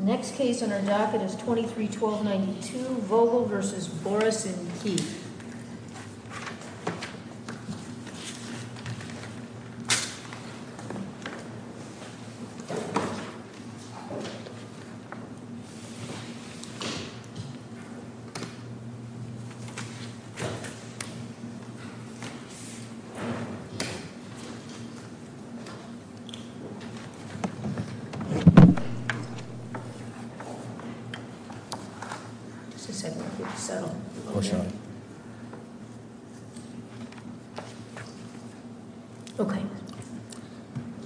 The next case on our docket is 23-1292 Vogel v. Boris and Keith.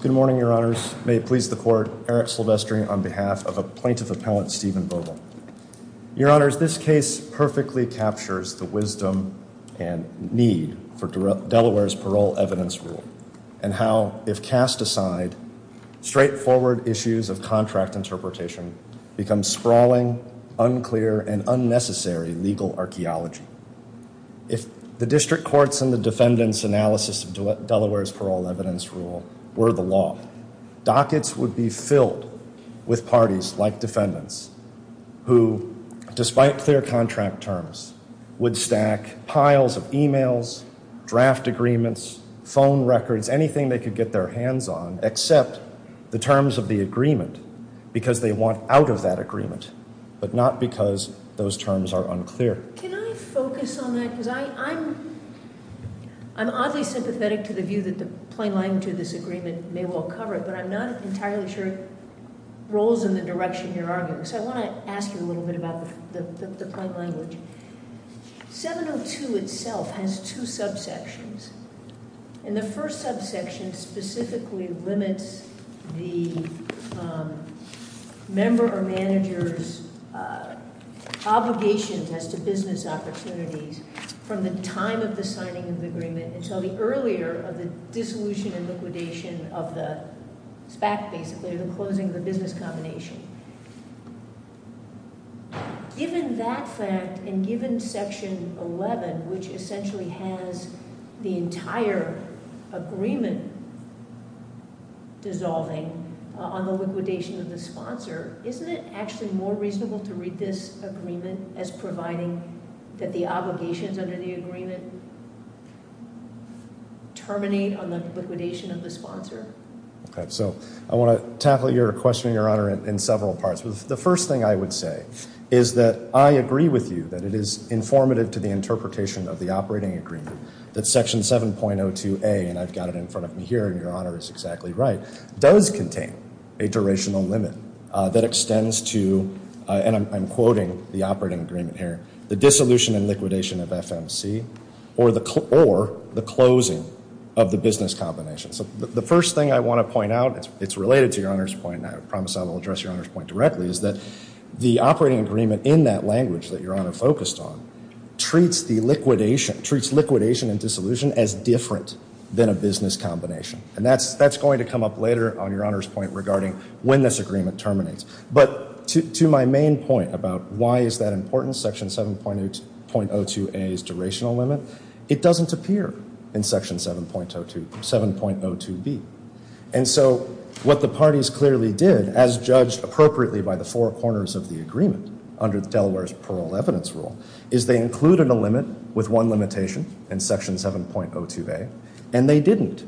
Good morning, your honors. May it please the court, Eric Silvestri on behalf of a plaintiff appellant Stephen Vogel. Your honors, this case perfectly captures the wisdom and need for Delaware's parole evidence rule and how, if cast aside, straightforward issues of contract interpretation become sprawling, unclear, and unnecessary legal archeology. If the district courts and the defendants' analysis of Delaware's parole evidence rule were the law, dockets would be filled with parties like defendants who, despite clear contract terms, would stack piles of emails, draft agreements, phone records, anything they could get their hands on except the terms of the agreement because they want out of that agreement, but not because those terms are unclear. Can I focus on that? I'm oddly sympathetic to the view that the plain language of this agreement may well cover it, but I'm not entirely sure it rolls in the direction you're arguing. So I want to ask you a little bit about the plain language. 702 itself has two subsections, and the first subsection specifically limits the member or manager's obligation as to business opportunities from the time of the signing of the agreement until the earlier of the dissolution and liquidation of the SPAC, basically the closing of the business combination. Given that fact and given Section 11, which essentially has the entire agreement dissolving on the liquidation of the sponsor, isn't it actually more reasonable to read this agreement as providing that the obligations under the agreement terminate on the liquidation of the sponsor? Okay, so I want to tackle your question, Your Honor, in several parts. The first thing I would say is that I agree with you that it is informative to the interpretation of the operating agreement that Section 7.02A, and I've got it in front of me here and Your Honor is exactly right, does contain a durational limit that extends to, and I'm quoting the operating agreement here, the dissolution and liquidation of FMC or the closing of the business combination. So the first thing I want to point out, it's related to Your Honor's point, and I promise I will address Your Honor's point directly, is that the operating agreement in that language that Your Honor focused on treats the liquidation and dissolution as different than a business combination, and that's going to come up later on Your Honor's point regarding when this agreement terminates. But to my main point about why is that important, Section 7.02A's durational limit, it doesn't appear in Section 7.02B. And so what the parties clearly did, as judged appropriately by the four corners of the agreement under Delaware's Parole Evidence Rule, is they included a limit with one limitation in Section 7.02A, and they didn't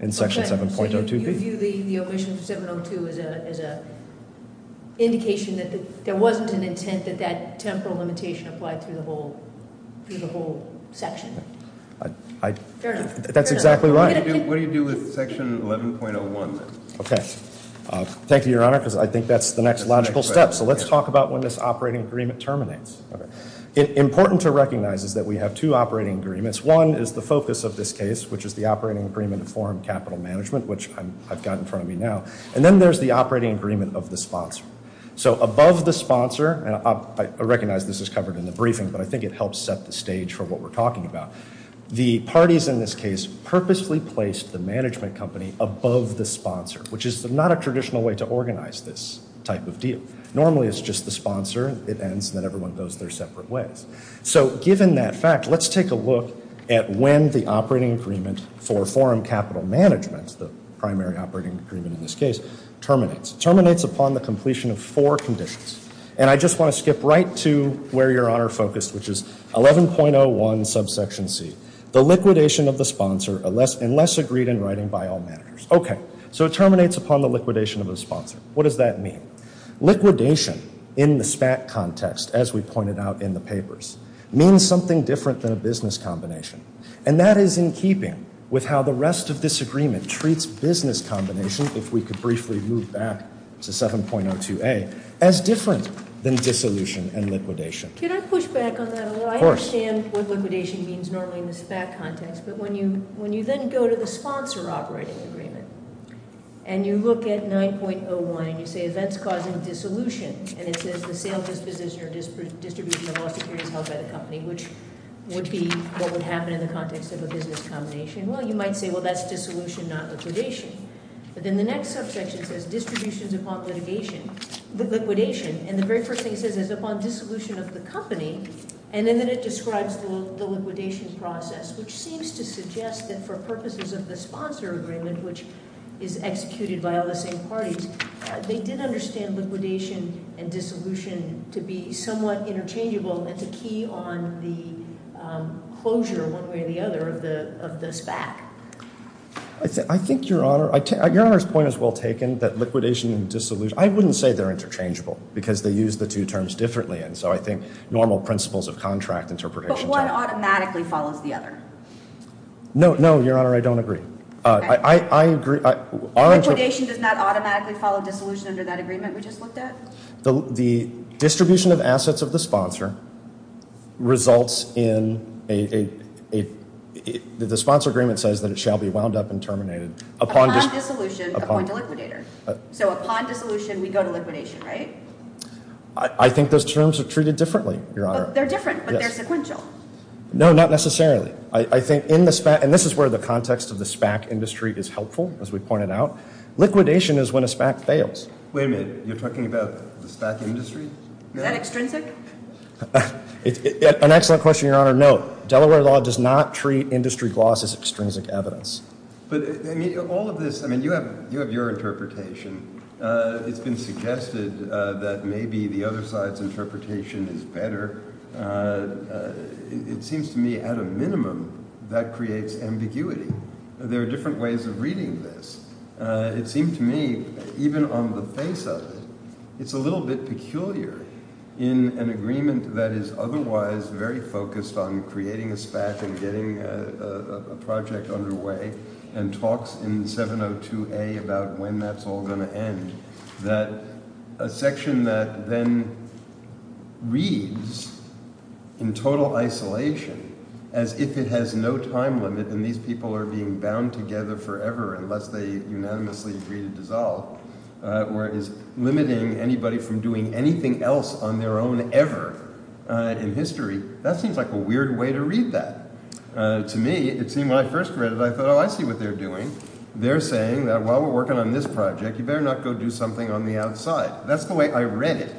in Section 7.02B. Okay, so you view the omission of 7.02 as an indication that there wasn't an intent that that temporal limitation applied through the whole section? Fair enough. That's exactly right. What do you do with Section 11.01 then? Okay. Thank you, Your Honor, because I think that's the next logical step. So let's talk about when this operating agreement terminates. Important to recognize is that we have two operating agreements. One is the focus of this case, which is the operating agreement of foreign capital management, which I've got in front of me now. And then there's the operating agreement of the sponsor. So above the sponsor, and I recognize this is covered in the briefing, but I think it helps set the stage for what we're talking about. The parties in this case purposely placed the management company above the sponsor, which is not a traditional way to organize this type of deal. Normally it's just the sponsor. It ends and then everyone goes their separate ways. So given that fact, let's take a look at when the operating agreement for foreign capital management, the primary operating agreement in this case, terminates. Terminates upon the completion of four conditions. And I just want to skip right to where Your Honor focused, which is 11.01 subsection C. The liquidation of the sponsor unless agreed in writing by all managers. Okay. So it terminates upon the liquidation of the sponsor. What does that mean? Liquidation in the SPAT context, as we pointed out in the papers, means something different than a business combination. And that is in keeping with how the rest of this agreement treats business combination, if we could briefly move back to 7.02A, as different than dissolution and liquidation. Can I push back on that a little? I understand what liquidation means normally in the SPAT context, but when you then go to the sponsor operating agreement and you look at 9.01 and you say events causing dissolution, and it says the sale, disposition, or distribution of all securities held by the company, which would be what would happen in the context of a business combination. Well, you might say, well, that's dissolution, not liquidation. But then the next subsection says distributions upon liquidation. And the very first thing it says is upon dissolution of the company. And then it describes the liquidation process, which seems to suggest that for purposes of the parties, they did understand liquidation and dissolution to be somewhat interchangeable and to key on the closure, one way or the other, of the SPAT. I think, Your Honor, Your Honor's point is well taken, that liquidation and dissolution, I wouldn't say they're interchangeable, because they use the two terms differently. And so I think normal principles of contract interpretation. But one automatically follows the other. No, Your Honor, I don't agree. I agree. Liquidation does not automatically follow dissolution under that agreement we just looked at? The distribution of assets of the sponsor results in a, the sponsor agreement says that it shall be wound up and terminated. Upon dissolution, appoint a liquidator. So upon dissolution, we go to liquidation, right? I think those terms are treated differently, Your Honor. They're different, but they're sequential. No, not necessarily. I think in the SPAT, and this is where the context of the SPAC industry is helpful, as we pointed out, liquidation is when a SPAC fails. Wait a minute. You're talking about the SPAC industry? Is that extrinsic? An excellent question, Your Honor. Note, Delaware law does not treat industry gloss as extrinsic evidence. But all of this, I mean, you have your interpretation. It's been suggested that maybe the other side's interpretation is better. It seems to me, at a minimum, that creates ambiguity. There are different ways of reading this. It seems to me, even on the face of it, it's a little bit peculiar in an agreement that is otherwise very focused on creating a SPAC and getting a project underway and talks in 702A about when that's all going to end, that a section that then reads in total isolation as if it has no time limit and these people are being bound together forever unless they unanimously agree to dissolve, where it is limiting anybody from doing anything else on their own ever in history. That seems like a weird way to read that. To me, it seemed when I first read it, I thought, oh, I see what they're doing. They're saying that while we're working on this project, you better not go do something on the outside. That's the way I read it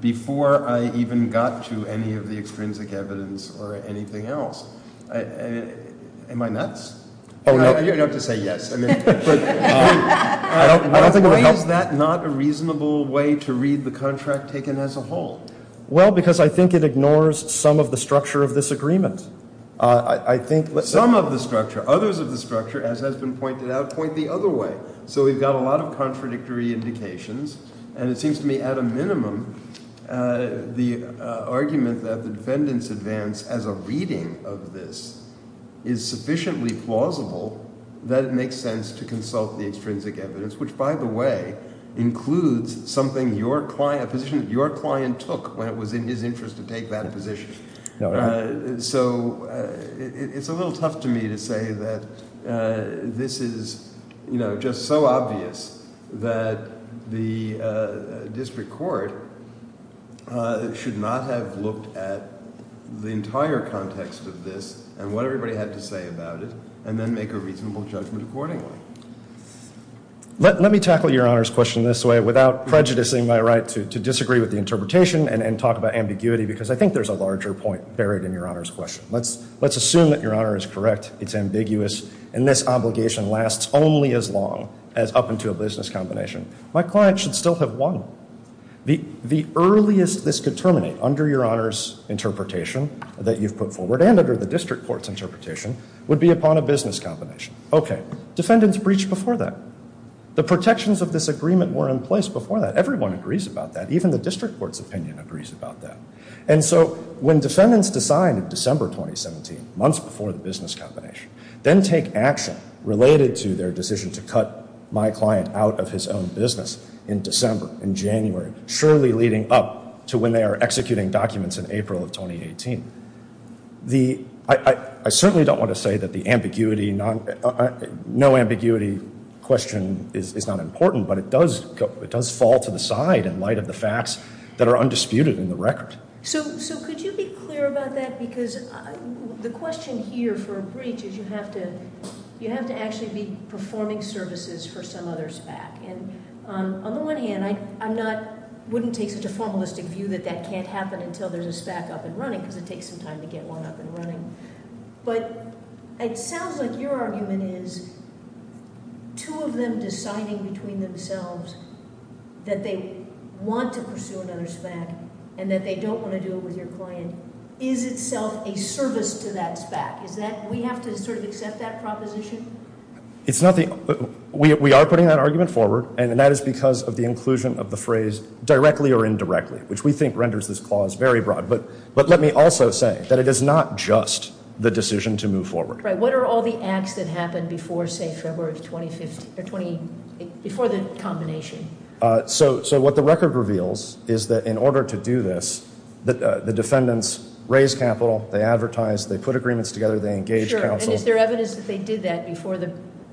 before I even got to any of the extrinsic evidence or anything else. Am I nuts? You don't have to say yes. Why is that not a reasonable way to read the contract taken as a whole? Well, because I think it ignores some of the structure of this agreement. Some of the structure. Others of the structure, as has been pointed out, point the other way. So we've got a lot of contradictory indications, and it seems to me at a minimum the argument that the defendant's advance as a reading of this is sufficiently plausible that it makes sense to consult the extrinsic evidence, which, by the way, includes something your client took when it was in his interest to take that position. So it's a little tough to me to say that this is, you know, just so obvious that the district court should not have looked at the entire context of this and what everybody had to say about it and then make a reasonable judgment accordingly. Let me tackle your Honor's question this way without prejudicing my right to disagree with the interpretation and talk about ambiguity because I think there's a larger point buried in your Honor's question. Let's assume that your Honor is correct. It's ambiguous, and this obligation lasts only as long as up into a business combination. My client should still have won. The earliest this could terminate under your Honor's interpretation that you've put forward and under the district court's interpretation would be upon a business combination. Okay, defendant's breach before that. The protections of this agreement were in place before that. Everyone agrees about that. Even the district court's opinion agrees about that. And so when defendants decide in December 2017, months before the business combination, then take action related to their decision to cut my client out of his own business in December, in January, surely leading up to when they are executing documents in April of 2018, I certainly don't want to say that the ambiguity, no ambiguity question is not important, but it does fall to the side in light of the facts that are undisputed in the record. So could you be clear about that? Because the question here for a breach is you have to actually be performing services for some other SPAC. And on the one hand, I wouldn't take such a formalistic view that that can't happen until there's a SPAC up and running because it takes some time to get one up and running. But it sounds like your argument is two of them deciding between themselves that they want to pursue another SPAC and that they don't want to do it with your client is itself a service to that SPAC. Is that, we have to sort of accept that proposition? It's not the, we are putting that argument forward, and that is because of the inclusion of the phrase directly or indirectly, which we think renders this clause very broad. But let me also say that it is not just the decision to move forward. Right. What are all the acts that happened before, say, February of 2015, or 20, before the combination? So what the record reveals is that in order to do this, the defendants raised capital, they advertised, they put agreements together, they engaged counsel. Sure. And is there evidence that they did that before the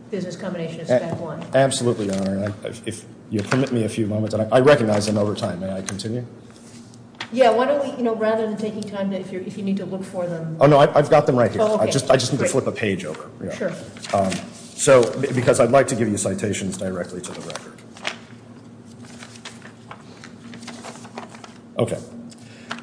business combination of SPAC 1? Absolutely, Your Honor. If you'll permit me a few moments. I recognize I'm over time. May I continue? Yeah, why don't we, you know, rather than taking time, if you need to look for them. Oh, no, I've got them right here. I just need to flip a page over. Sure. So, because I'd like to give you citations directly to the record. Okay.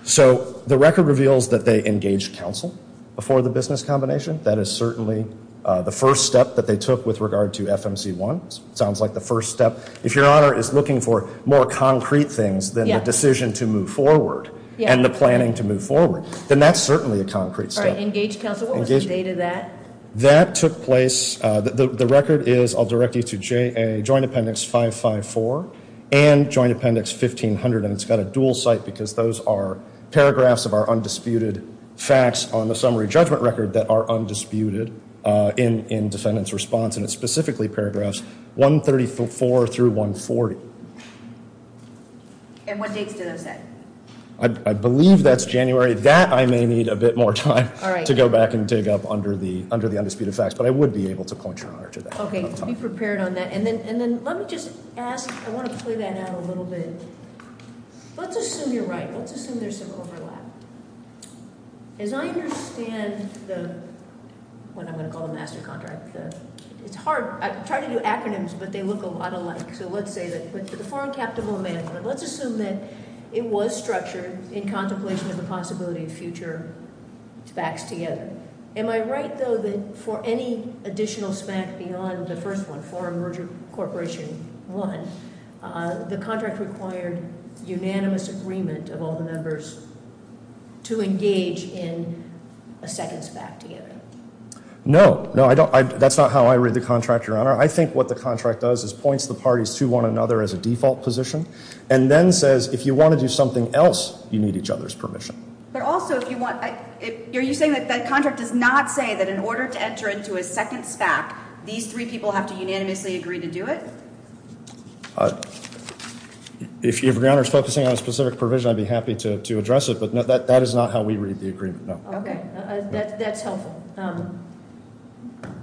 So the record reveals that they engaged counsel before the business combination. That is certainly the first step that they took with regard to FMC 1. Sounds like the first step. If Your Honor is looking for more concrete things than the decision to move forward and the planning to move forward, then that's certainly a concrete step. All right. Engaged counsel. What was the date of that? That took place, the record is, I'll direct you to Joint Appendix 554 and Joint Appendix 1500, and it's got a dual site because those are paragraphs of our undisputed facts on the summary judgment record that are undisputed in defendant's response, and it's specifically paragraphs 134 through 140. And what dates do those have? I believe that's January. That I may need a bit more time to go back and dig up under the undisputed facts, but I would be able to point Your Honor to that. Okay. Be prepared on that. And then let me just ask, I want to play that out a little bit. Let's assume you're right. Let's assume there's some overlap. As I understand the, what I'm going to call the master contract, it's hard. I've tried to do acronyms, but they look a lot alike. So let's say that the Foreign Captable Amendment, let's assume that it was structured in contemplation of the possibility of future SPACs together. Am I right, though, that for any additional SPAC beyond the first one, Foreign Merger Corporation I, the contract required unanimous agreement of all the members to engage in a second SPAC together? No. No, I don't. That's not how I read the contract, Your Honor. I think what the contract does is points the parties to one another as a default position, and then says if you want to do something else, you need each other's permission. But also if you want, are you saying that the contract does not say that in order to enter into a second SPAC, these three people have to unanimously agree to do it? If Your Honor is focusing on a specific provision, I'd be happy to address it, but that is not how we read the agreement, no. Okay. That's helpful.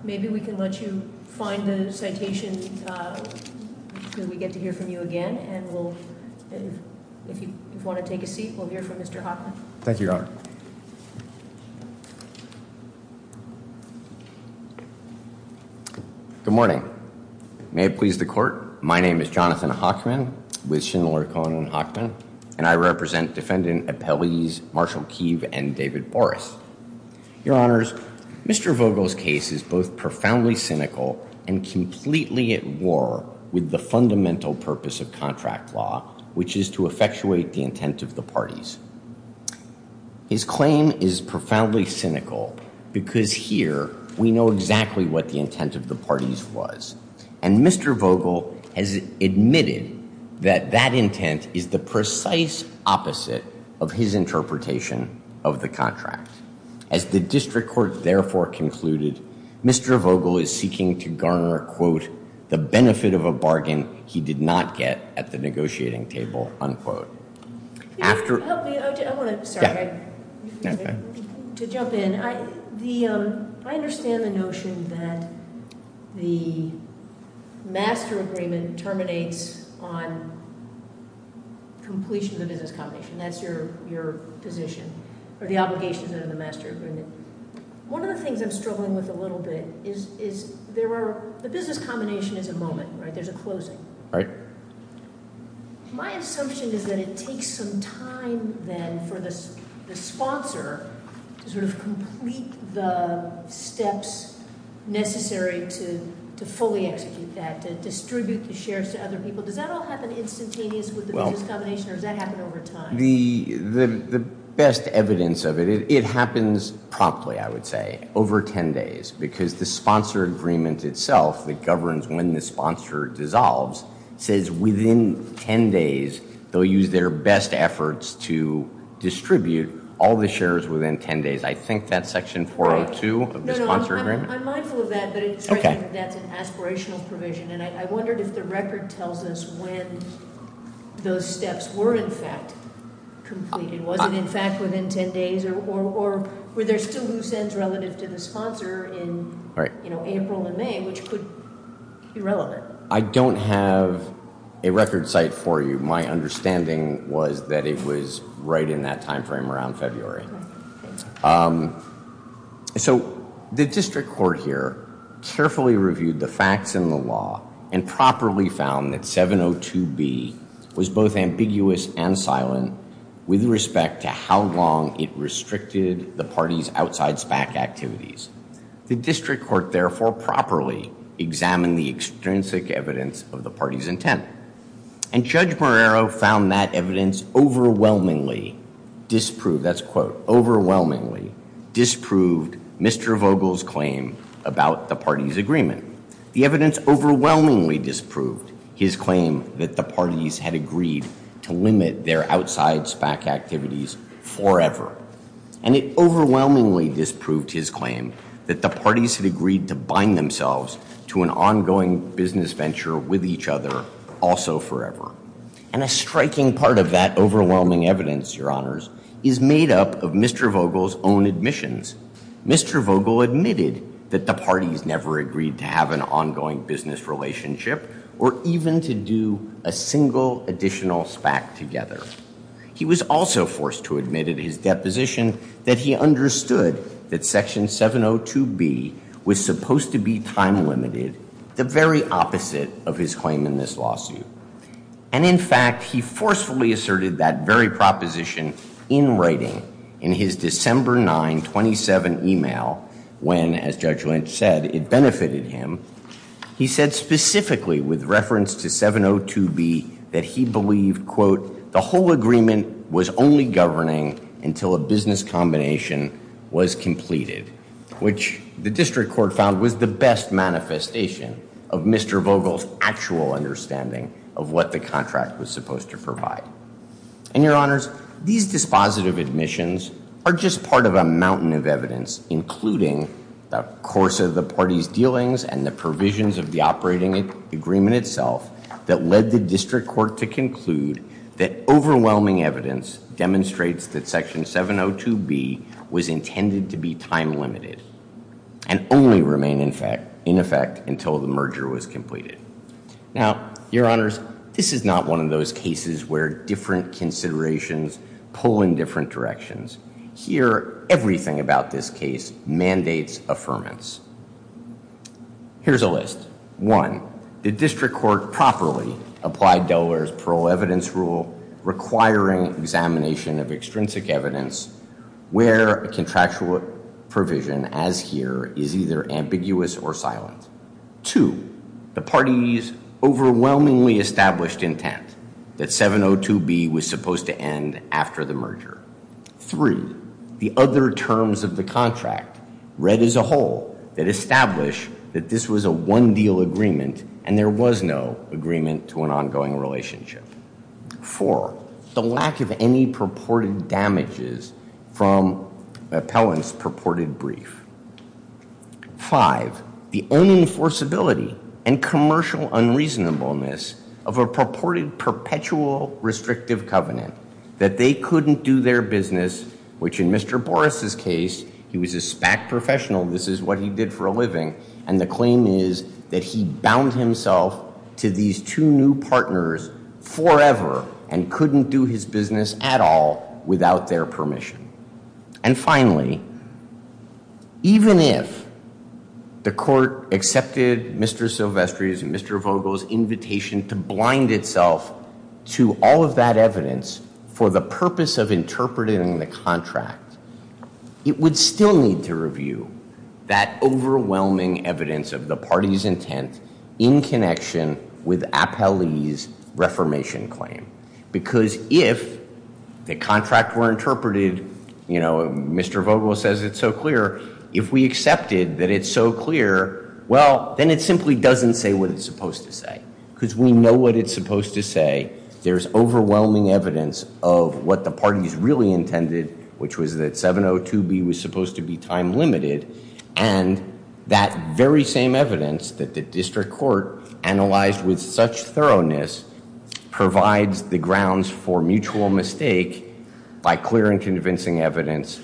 Maybe we can let you find the citation until we get to hear from you again, and we'll, if you want to take a seat, we'll hear from Mr. Hotline. Thank you, Your Honor. Good morning. May it please the Court, my name is Jonathan Hochman, with Schindler, Cohen & Hochman, and I represent Defendant Appellees Marshall Keeve and David Boris. Your Honors, Mr. Vogel's case is both profoundly cynical and completely at war with the fundamental purpose of contract law, which is to effectuate the intent of the parties. His claim is profoundly cynical because here we know exactly what the intent of the parties was, and Mr. Vogel has admitted that that intent is the precise opposite of his interpretation of the contract. As the district court therefore concluded, Mr. Vogel is seeking to garner, quote, the benefit of a bargain he did not get at the negotiating table, unquote. If you could help me, I want to, sorry, to jump in. I understand the notion that the master agreement terminates on completion of the business combination, that's your position, or the obligations under the master agreement. One of the things I'm struggling with a little bit is there are, the business combination is a moment, right? There's a closing. My assumption is that it takes some time then for the sponsor to sort of complete the steps necessary to fully execute that, to distribute the shares to other people. Does that all happen instantaneous with the business combination, or does that happen over time? The best evidence of it, it happens promptly, I would say, over 10 days, because the sponsor agreement itself that governs when the sponsor dissolves says within 10 days they'll use their best efforts to distribute all the shares within 10 days. I think that's section 402 of the sponsor agreement. I'm mindful of that, but I think that's an aspirational provision, and I wondered if the record tells us when those steps were in fact completed. Was it in fact within 10 days, or were there still loose ends relative to the sponsor in April and May, which could be relevant? I don't have a record site for you. My understanding was that it was right in that time frame around February. So the district court here carefully reviewed the facts in the law and properly found that 702B was both ambiguous and silent with respect to how long it restricted the party's outside SPAC activities. The district court therefore properly examined the extrinsic evidence of the party's intent, and Judge Marrero found that evidence overwhelmingly disproved Mr. Vogel's claim about the party's agreement. The evidence overwhelmingly disproved his claim that the parties had agreed to limit their outside SPAC activities forever, and it overwhelmingly disproved his claim that the parties had agreed to bind themselves to an ongoing business venture with each other also forever. And a striking part of that overwhelming evidence, Your Honors, is made up of Mr. Vogel's own admissions. Mr. Vogel admitted that the parties never agreed to have an ongoing business relationship or even to do a single additional SPAC together. He was also forced to admit at his deposition that he understood that Section 702B was supposed to be time-limited, the very opposite of his claim in this lawsuit. And in fact, he forcefully asserted that very proposition in writing in his December 9, 27 email when, as Judge Lynch said, it benefited him. He said specifically with reference to 702B that he believed, quote, the whole agreement was only governing until a business combination was completed, which the district court found was the best manifestation of Mr. Vogel's actual understanding of what the contract was supposed to provide. And Your Honors, these dispositive admissions are just part of a mountain of evidence, including the course of the parties' dealings and the provisions of the operating agreement itself that led the district court to conclude that overwhelming evidence demonstrates that Section 702B was intended to be time-limited and only remain in effect until the merger was completed. Now, Your Honors, this is not one of those cases where different considerations pull in different directions. Here, everything about this case mandates affirmance. Here's a list. One, the district court properly applied Delaware's parole evidence rule requiring examination of extrinsic evidence where a contractual provision, as here, is either ambiguous or silent. Two, the parties' overwhelmingly established intent that 702B was supposed to end after the merger. Three, the other terms of the contract read as a whole that established that this was a one-deal agreement and there was no agreement to an ongoing relationship. Four, the lack of any purported damages from appellant's purported brief. Five, the own enforceability and commercial unreasonableness of a purported perpetual restrictive covenant that they couldn't do their business, which in Mr. Boris' case, he was a SPAC professional, this is what he did for a living, and the claim is that he bound himself to these two new partners forever and couldn't do his business at all without their permission. And finally, even if the court accepted Mr. Silvestri's and Mr. Vogel's invitation to blind itself to all of that evidence for the purpose of interpreting the contract, it would still need to review that overwhelming evidence of the party's intent in connection with Appellee's reformation claim. Because if the contract were interpreted, you know, Mr. Vogel says it's so clear, if we accepted that it's so clear, well, then it simply doesn't say what it's supposed to say. Because we know what it's supposed to say. There's overwhelming evidence of what the parties really intended, which was that 702B was supposed to be time limited, and that very same evidence that the district court analyzed with such thoroughness provides the grounds for mutual mistake by clear and convincing evidence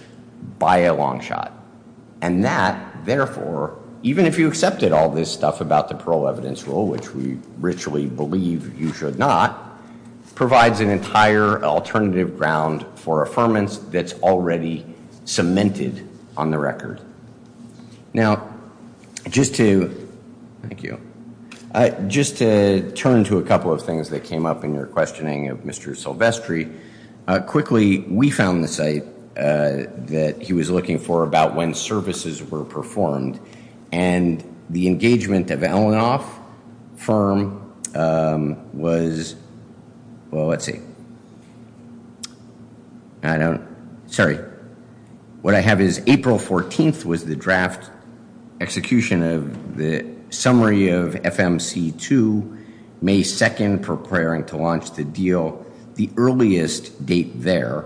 by a long shot. And that, therefore, even if you accepted all this stuff about the parole evidence rule, which we richly believe you should not, provides an entire alternative ground for affirmance that's already cemented on the record. Now, just to turn to a couple of things that came up in your questioning of Mr. Silvestri. Quickly, we found the site that he was looking for about when services were performed, and the engagement of Elanoff firm was, well, let's see. I don't, sorry. What I have is April 14th was the draft execution of the summary of FMC2, May 2nd preparing to launch the deal. The earliest date there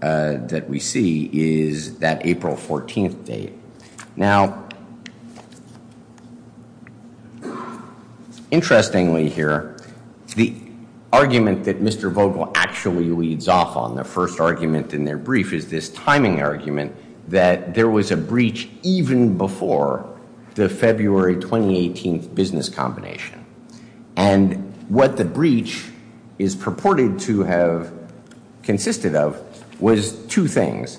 that we see is that April 14th date. Now, interestingly here, the argument that Mr. Vogel actually leads off on, the first argument in their brief is this timing argument that there was a breach even before the February 2018 business combination. And what the breach is purported to have consisted of was two things.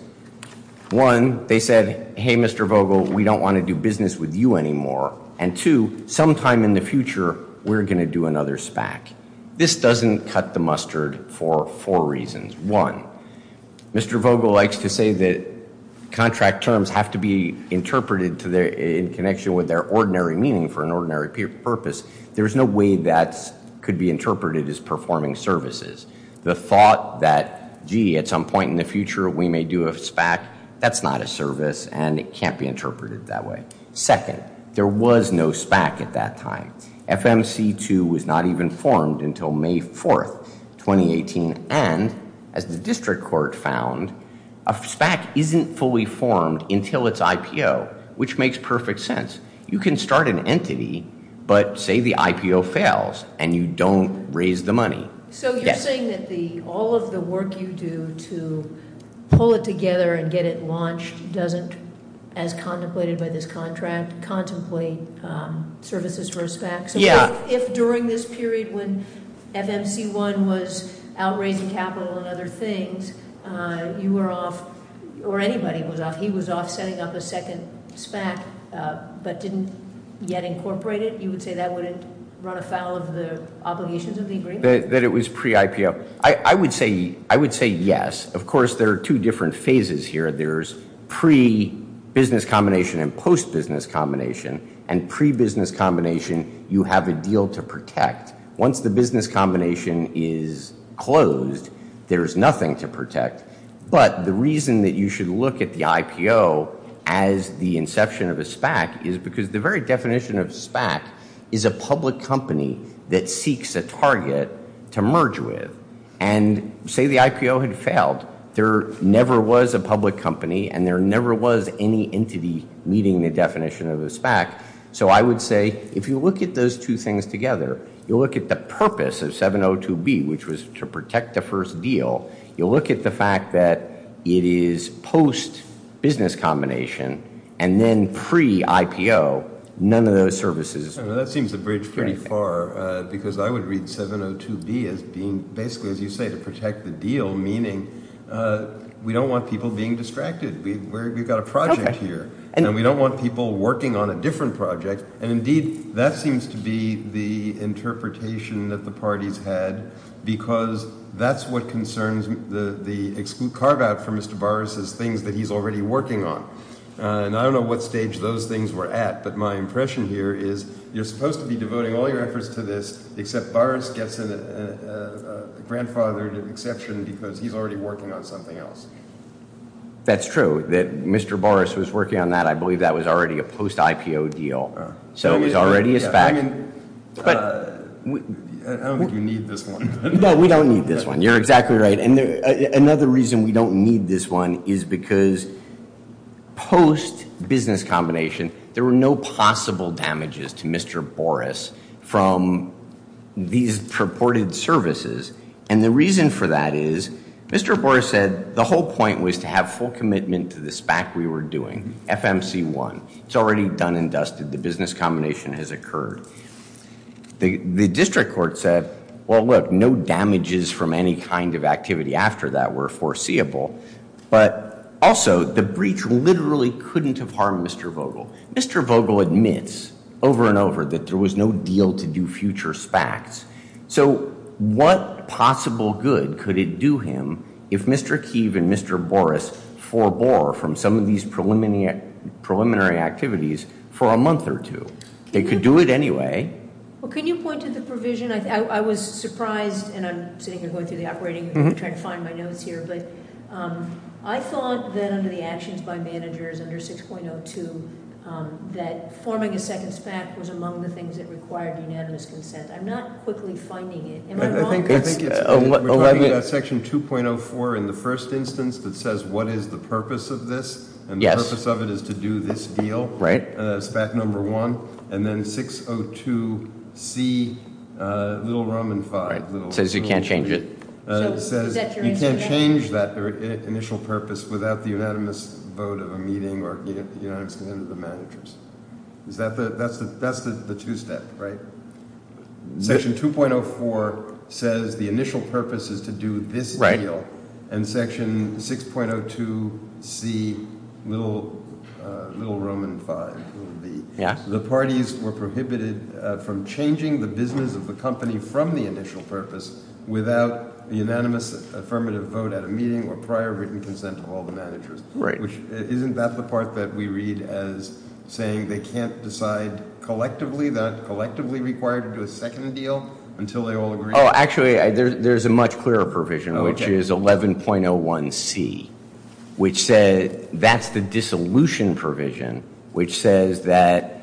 One, they said, hey, Mr. Vogel, we don't want to do business with you anymore. And two, sometime in the future, we're going to do another SPAC. This doesn't cut the mustard for four reasons. One, Mr. Vogel likes to say that contract terms have to be interpreted in connection with their ordinary meaning for an ordinary purpose. There's no way that could be interpreted as performing services. The thought that, gee, at some point in the future we may do a SPAC, that's not a service and it can't be interpreted that way. Second, there was no SPAC at that time. FMC2 was not even formed until May 4th, 2018. And as the district court found, a SPAC isn't fully formed until it's IPO, which makes perfect sense. You can start an entity, but say the IPO fails and you don't raise the money. So you're saying that all of the work you do to pull it together and get it launched doesn't, as contemplated by this contract, contemplate services for a SPAC? Yeah. So if during this period when FMC1 was outraising capital and other things, you were off, or anybody was off, he was off setting up a second SPAC but didn't yet incorporate it, you would say that wouldn't run afoul of the obligations of the agreement? That it was pre-IPO. I would say yes. Of course, there are two different phases here. There's pre-business combination and post-business combination. And pre-business combination, you have a deal to protect. Once the business combination is closed, there's nothing to protect. But the reason that you should look at the IPO as the inception of a SPAC is because the very definition of SPAC is a public company that seeks a target to merge with. And say the IPO had failed, there never was a public company and there never was any entity meeting the definition of a SPAC. So I would say if you look at those two things together, you look at the purpose of 702B, which was to protect the first deal, you look at the fact that it is post-business combination and then pre-IPO, none of those services. That seems to bridge pretty far because I would read 702B as being basically, as you say, to protect the deal, meaning we don't want people being distracted. We've got a project here and we don't want people working on a different project. And indeed, that seems to be the interpretation that the parties had because that's what concerns the exclude carve-out for Mr. Boris's things that he's already working on. And I don't know what stage those things were at, but my impression here is you're supposed to be devoting all your efforts to this except Boris gets a grandfathered exception because he's already working on something else. That's true that Mr. Boris was working on that. I believe that was already a post-IPO deal. So it was already a SPAC. I don't think you need this one. No, we don't need this one. You're exactly right. And another reason we don't need this one is because post-business combination, there were no possible damages to Mr. Boris from these purported services. And the reason for that is Mr. Boris said the whole point was to have full commitment to the SPAC we were doing, FMC1. It's already done and dusted. The business combination has occurred. The district court said, well, look, no damages from any kind of activity after that were foreseeable. But also, the breach literally couldn't have harmed Mr. Vogel. Mr. Vogel admits over and over that there was no deal to do future SPACs. So what possible good could it do him if Mr. Keeve and Mr. Boris forbore from some of these preliminary activities for a month or two? They could do it anyway. Well, can you point to the provision? I was surprised, and I'm sitting here going through the operating room trying to find my notes here. But I thought that under the actions by managers under 6.02 that forming a second SPAC was among the things that required unanimous consent. I'm not quickly finding it. Am I wrong? I think it's section 2.04 in the first instance that says what is the purpose of this. Yes. And the purpose of it is to do this deal. Right. SPAC number one. And then 6.02C, little rum and five. It says you can't change it. It says you can't change that initial purpose without the unanimous vote of a meeting or unanimous consent of the managers. That's the two-step, right? Section 2.04 says the initial purpose is to do this deal. And section 6.02C, little rum and five. Yes. The parties were prohibited from changing the business of the company from the initial purpose without the unanimous affirmative vote at a meeting or prior written consent of all the managers. Right. Isn't that the part that we read as saying they can't decide collectively, they're not collectively required to do a second deal until they all agree? Actually, there's a much clearer provision, which is 11.01C, which says that's the dissolution provision, which says that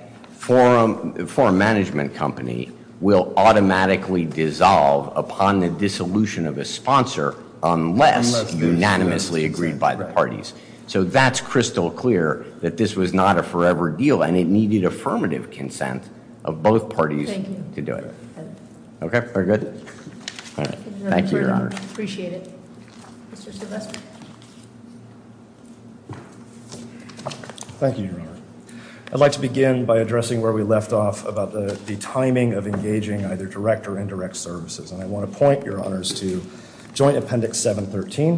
a foreign management company will automatically dissolve upon the dissolution of a sponsor unless unanimously agreed by the parties. So that's crystal clear that this was not a forever deal, and it needed affirmative consent of both parties to do it. Okay, we're good? All right. Thank you, Your Honor. Appreciate it. Mr. Silvestri. Thank you, Your Honor. I'd like to begin by addressing where we left off about the timing of engaging either direct or indirect services. And I want to point, Your Honors, to Joint Appendix 713,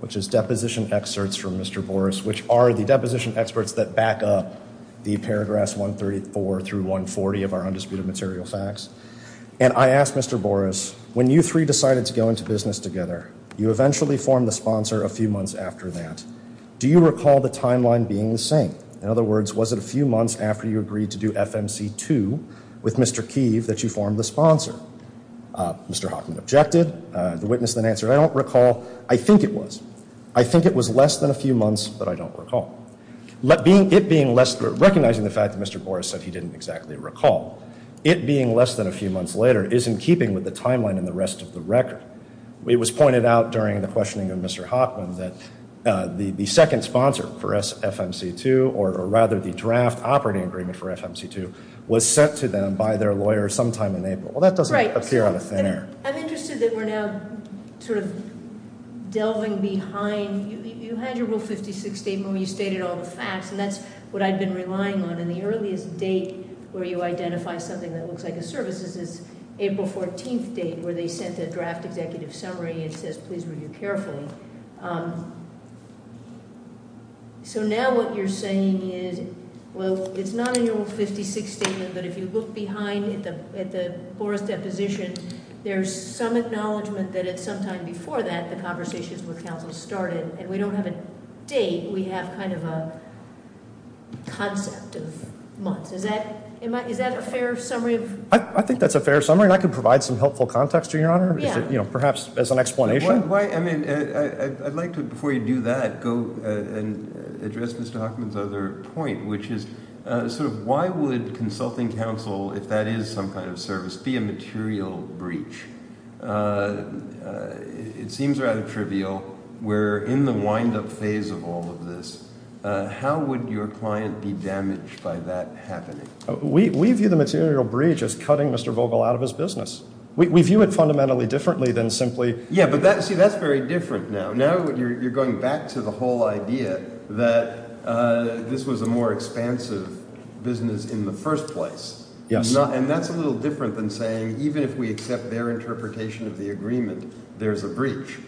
which is deposition excerpts from Mr. Boris, which are the deposition experts that back up the paragraphs 134 through 140 of our Undisputed Material Facts. And I asked Mr. Boris, when you three decided to go into business together, you eventually formed the sponsor a few months after that. Do you recall the timeline being the same? In other words, was it a few months after you agreed to do FMC2 with Mr. Keeve that you formed the sponsor? Mr. Hockman objected. The witness then answered, I don't recall. I think it was. I think it was less than a few months, but I don't recall. Recognizing the fact that Mr. Boris said he didn't exactly recall, it being less than a few months later is in keeping with the timeline in the rest of the record. It was pointed out during the questioning of Mr. Hockman that the second sponsor for FMC2, or rather the draft operating agreement for FMC2, was sent to them by their lawyer sometime in April. Well, that doesn't appear on the thin air. Right. I'm interested that we're now sort of delving behind. You had your Rule 56 statement where you stated all the facts, and that's what I'd been relying on. And the earliest date where you identify something that looks like a service is April 14th date, where they sent a draft executive summary and it says, please review carefully. So now what you're saying is, well, it's not in your Rule 56 statement, but if you look behind at the Boris deposition, there's some acknowledgment that at some time before that the conversations with counsel started, and we don't have a date, we have kind of a concept of months. Is that a fair summary? I think that's a fair summary, and I can provide some helpful context to you, Your Honor, perhaps as an explanation. Why, I mean, I'd like to, before you do that, go and address Mr. Hochman's other point, which is sort of why would consulting counsel, if that is some kind of service, be a material breach? It seems rather trivial. We're in the wind-up phase of all of this. How would your client be damaged by that happening? We view the material breach as cutting Mr. Vogel out of his business. We view it fundamentally differently than simply – Yeah, but see, that's very different now. Now you're going back to the whole idea that this was a more expansive business in the first place. Yes. And that's a little different than saying even if we accept their interpretation of the agreement, there's a breach.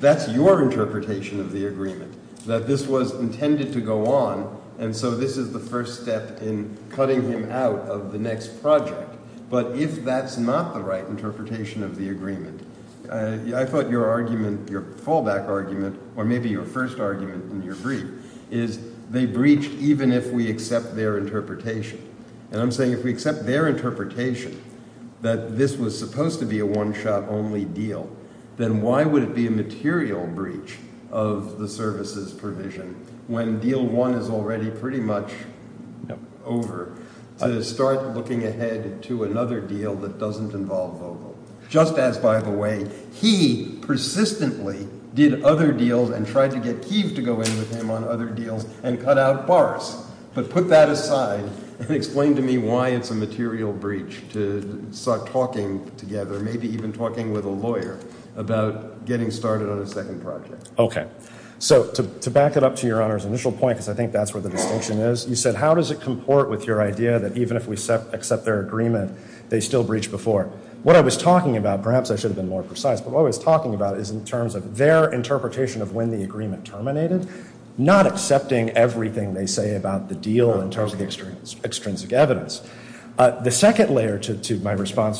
That's your interpretation of the agreement, that this was intended to go on, and so this is the first step in cutting him out of the next project. But if that's not the right interpretation of the agreement, I thought your argument, your fallback argument, or maybe your first argument in your brief, is they breached even if we accept their interpretation. And I'm saying if we accept their interpretation that this was supposed to be a one-shot only deal, then why would it be a material breach of the services provision when deal one is already pretty much over? To start looking ahead to another deal that doesn't involve Vogel. Just as, by the way, he persistently did other deals and tried to get Keeve to go in with him on other deals and cut out Boris. But put that aside and explain to me why it's a material breach to start talking together, maybe even talking with a lawyer about getting started on a second project. Okay. So to back it up to Your Honor's initial point, because I think that's where the distinction is, you said how does it comport with your idea that even if we accept their agreement, they still breached before. What I was talking about, perhaps I should have been more precise, but what I was talking about is in terms of their interpretation of when the agreement terminated, not accepting everything they say about the deal in terms of the extrinsic evidence. The second layer to my response to your question,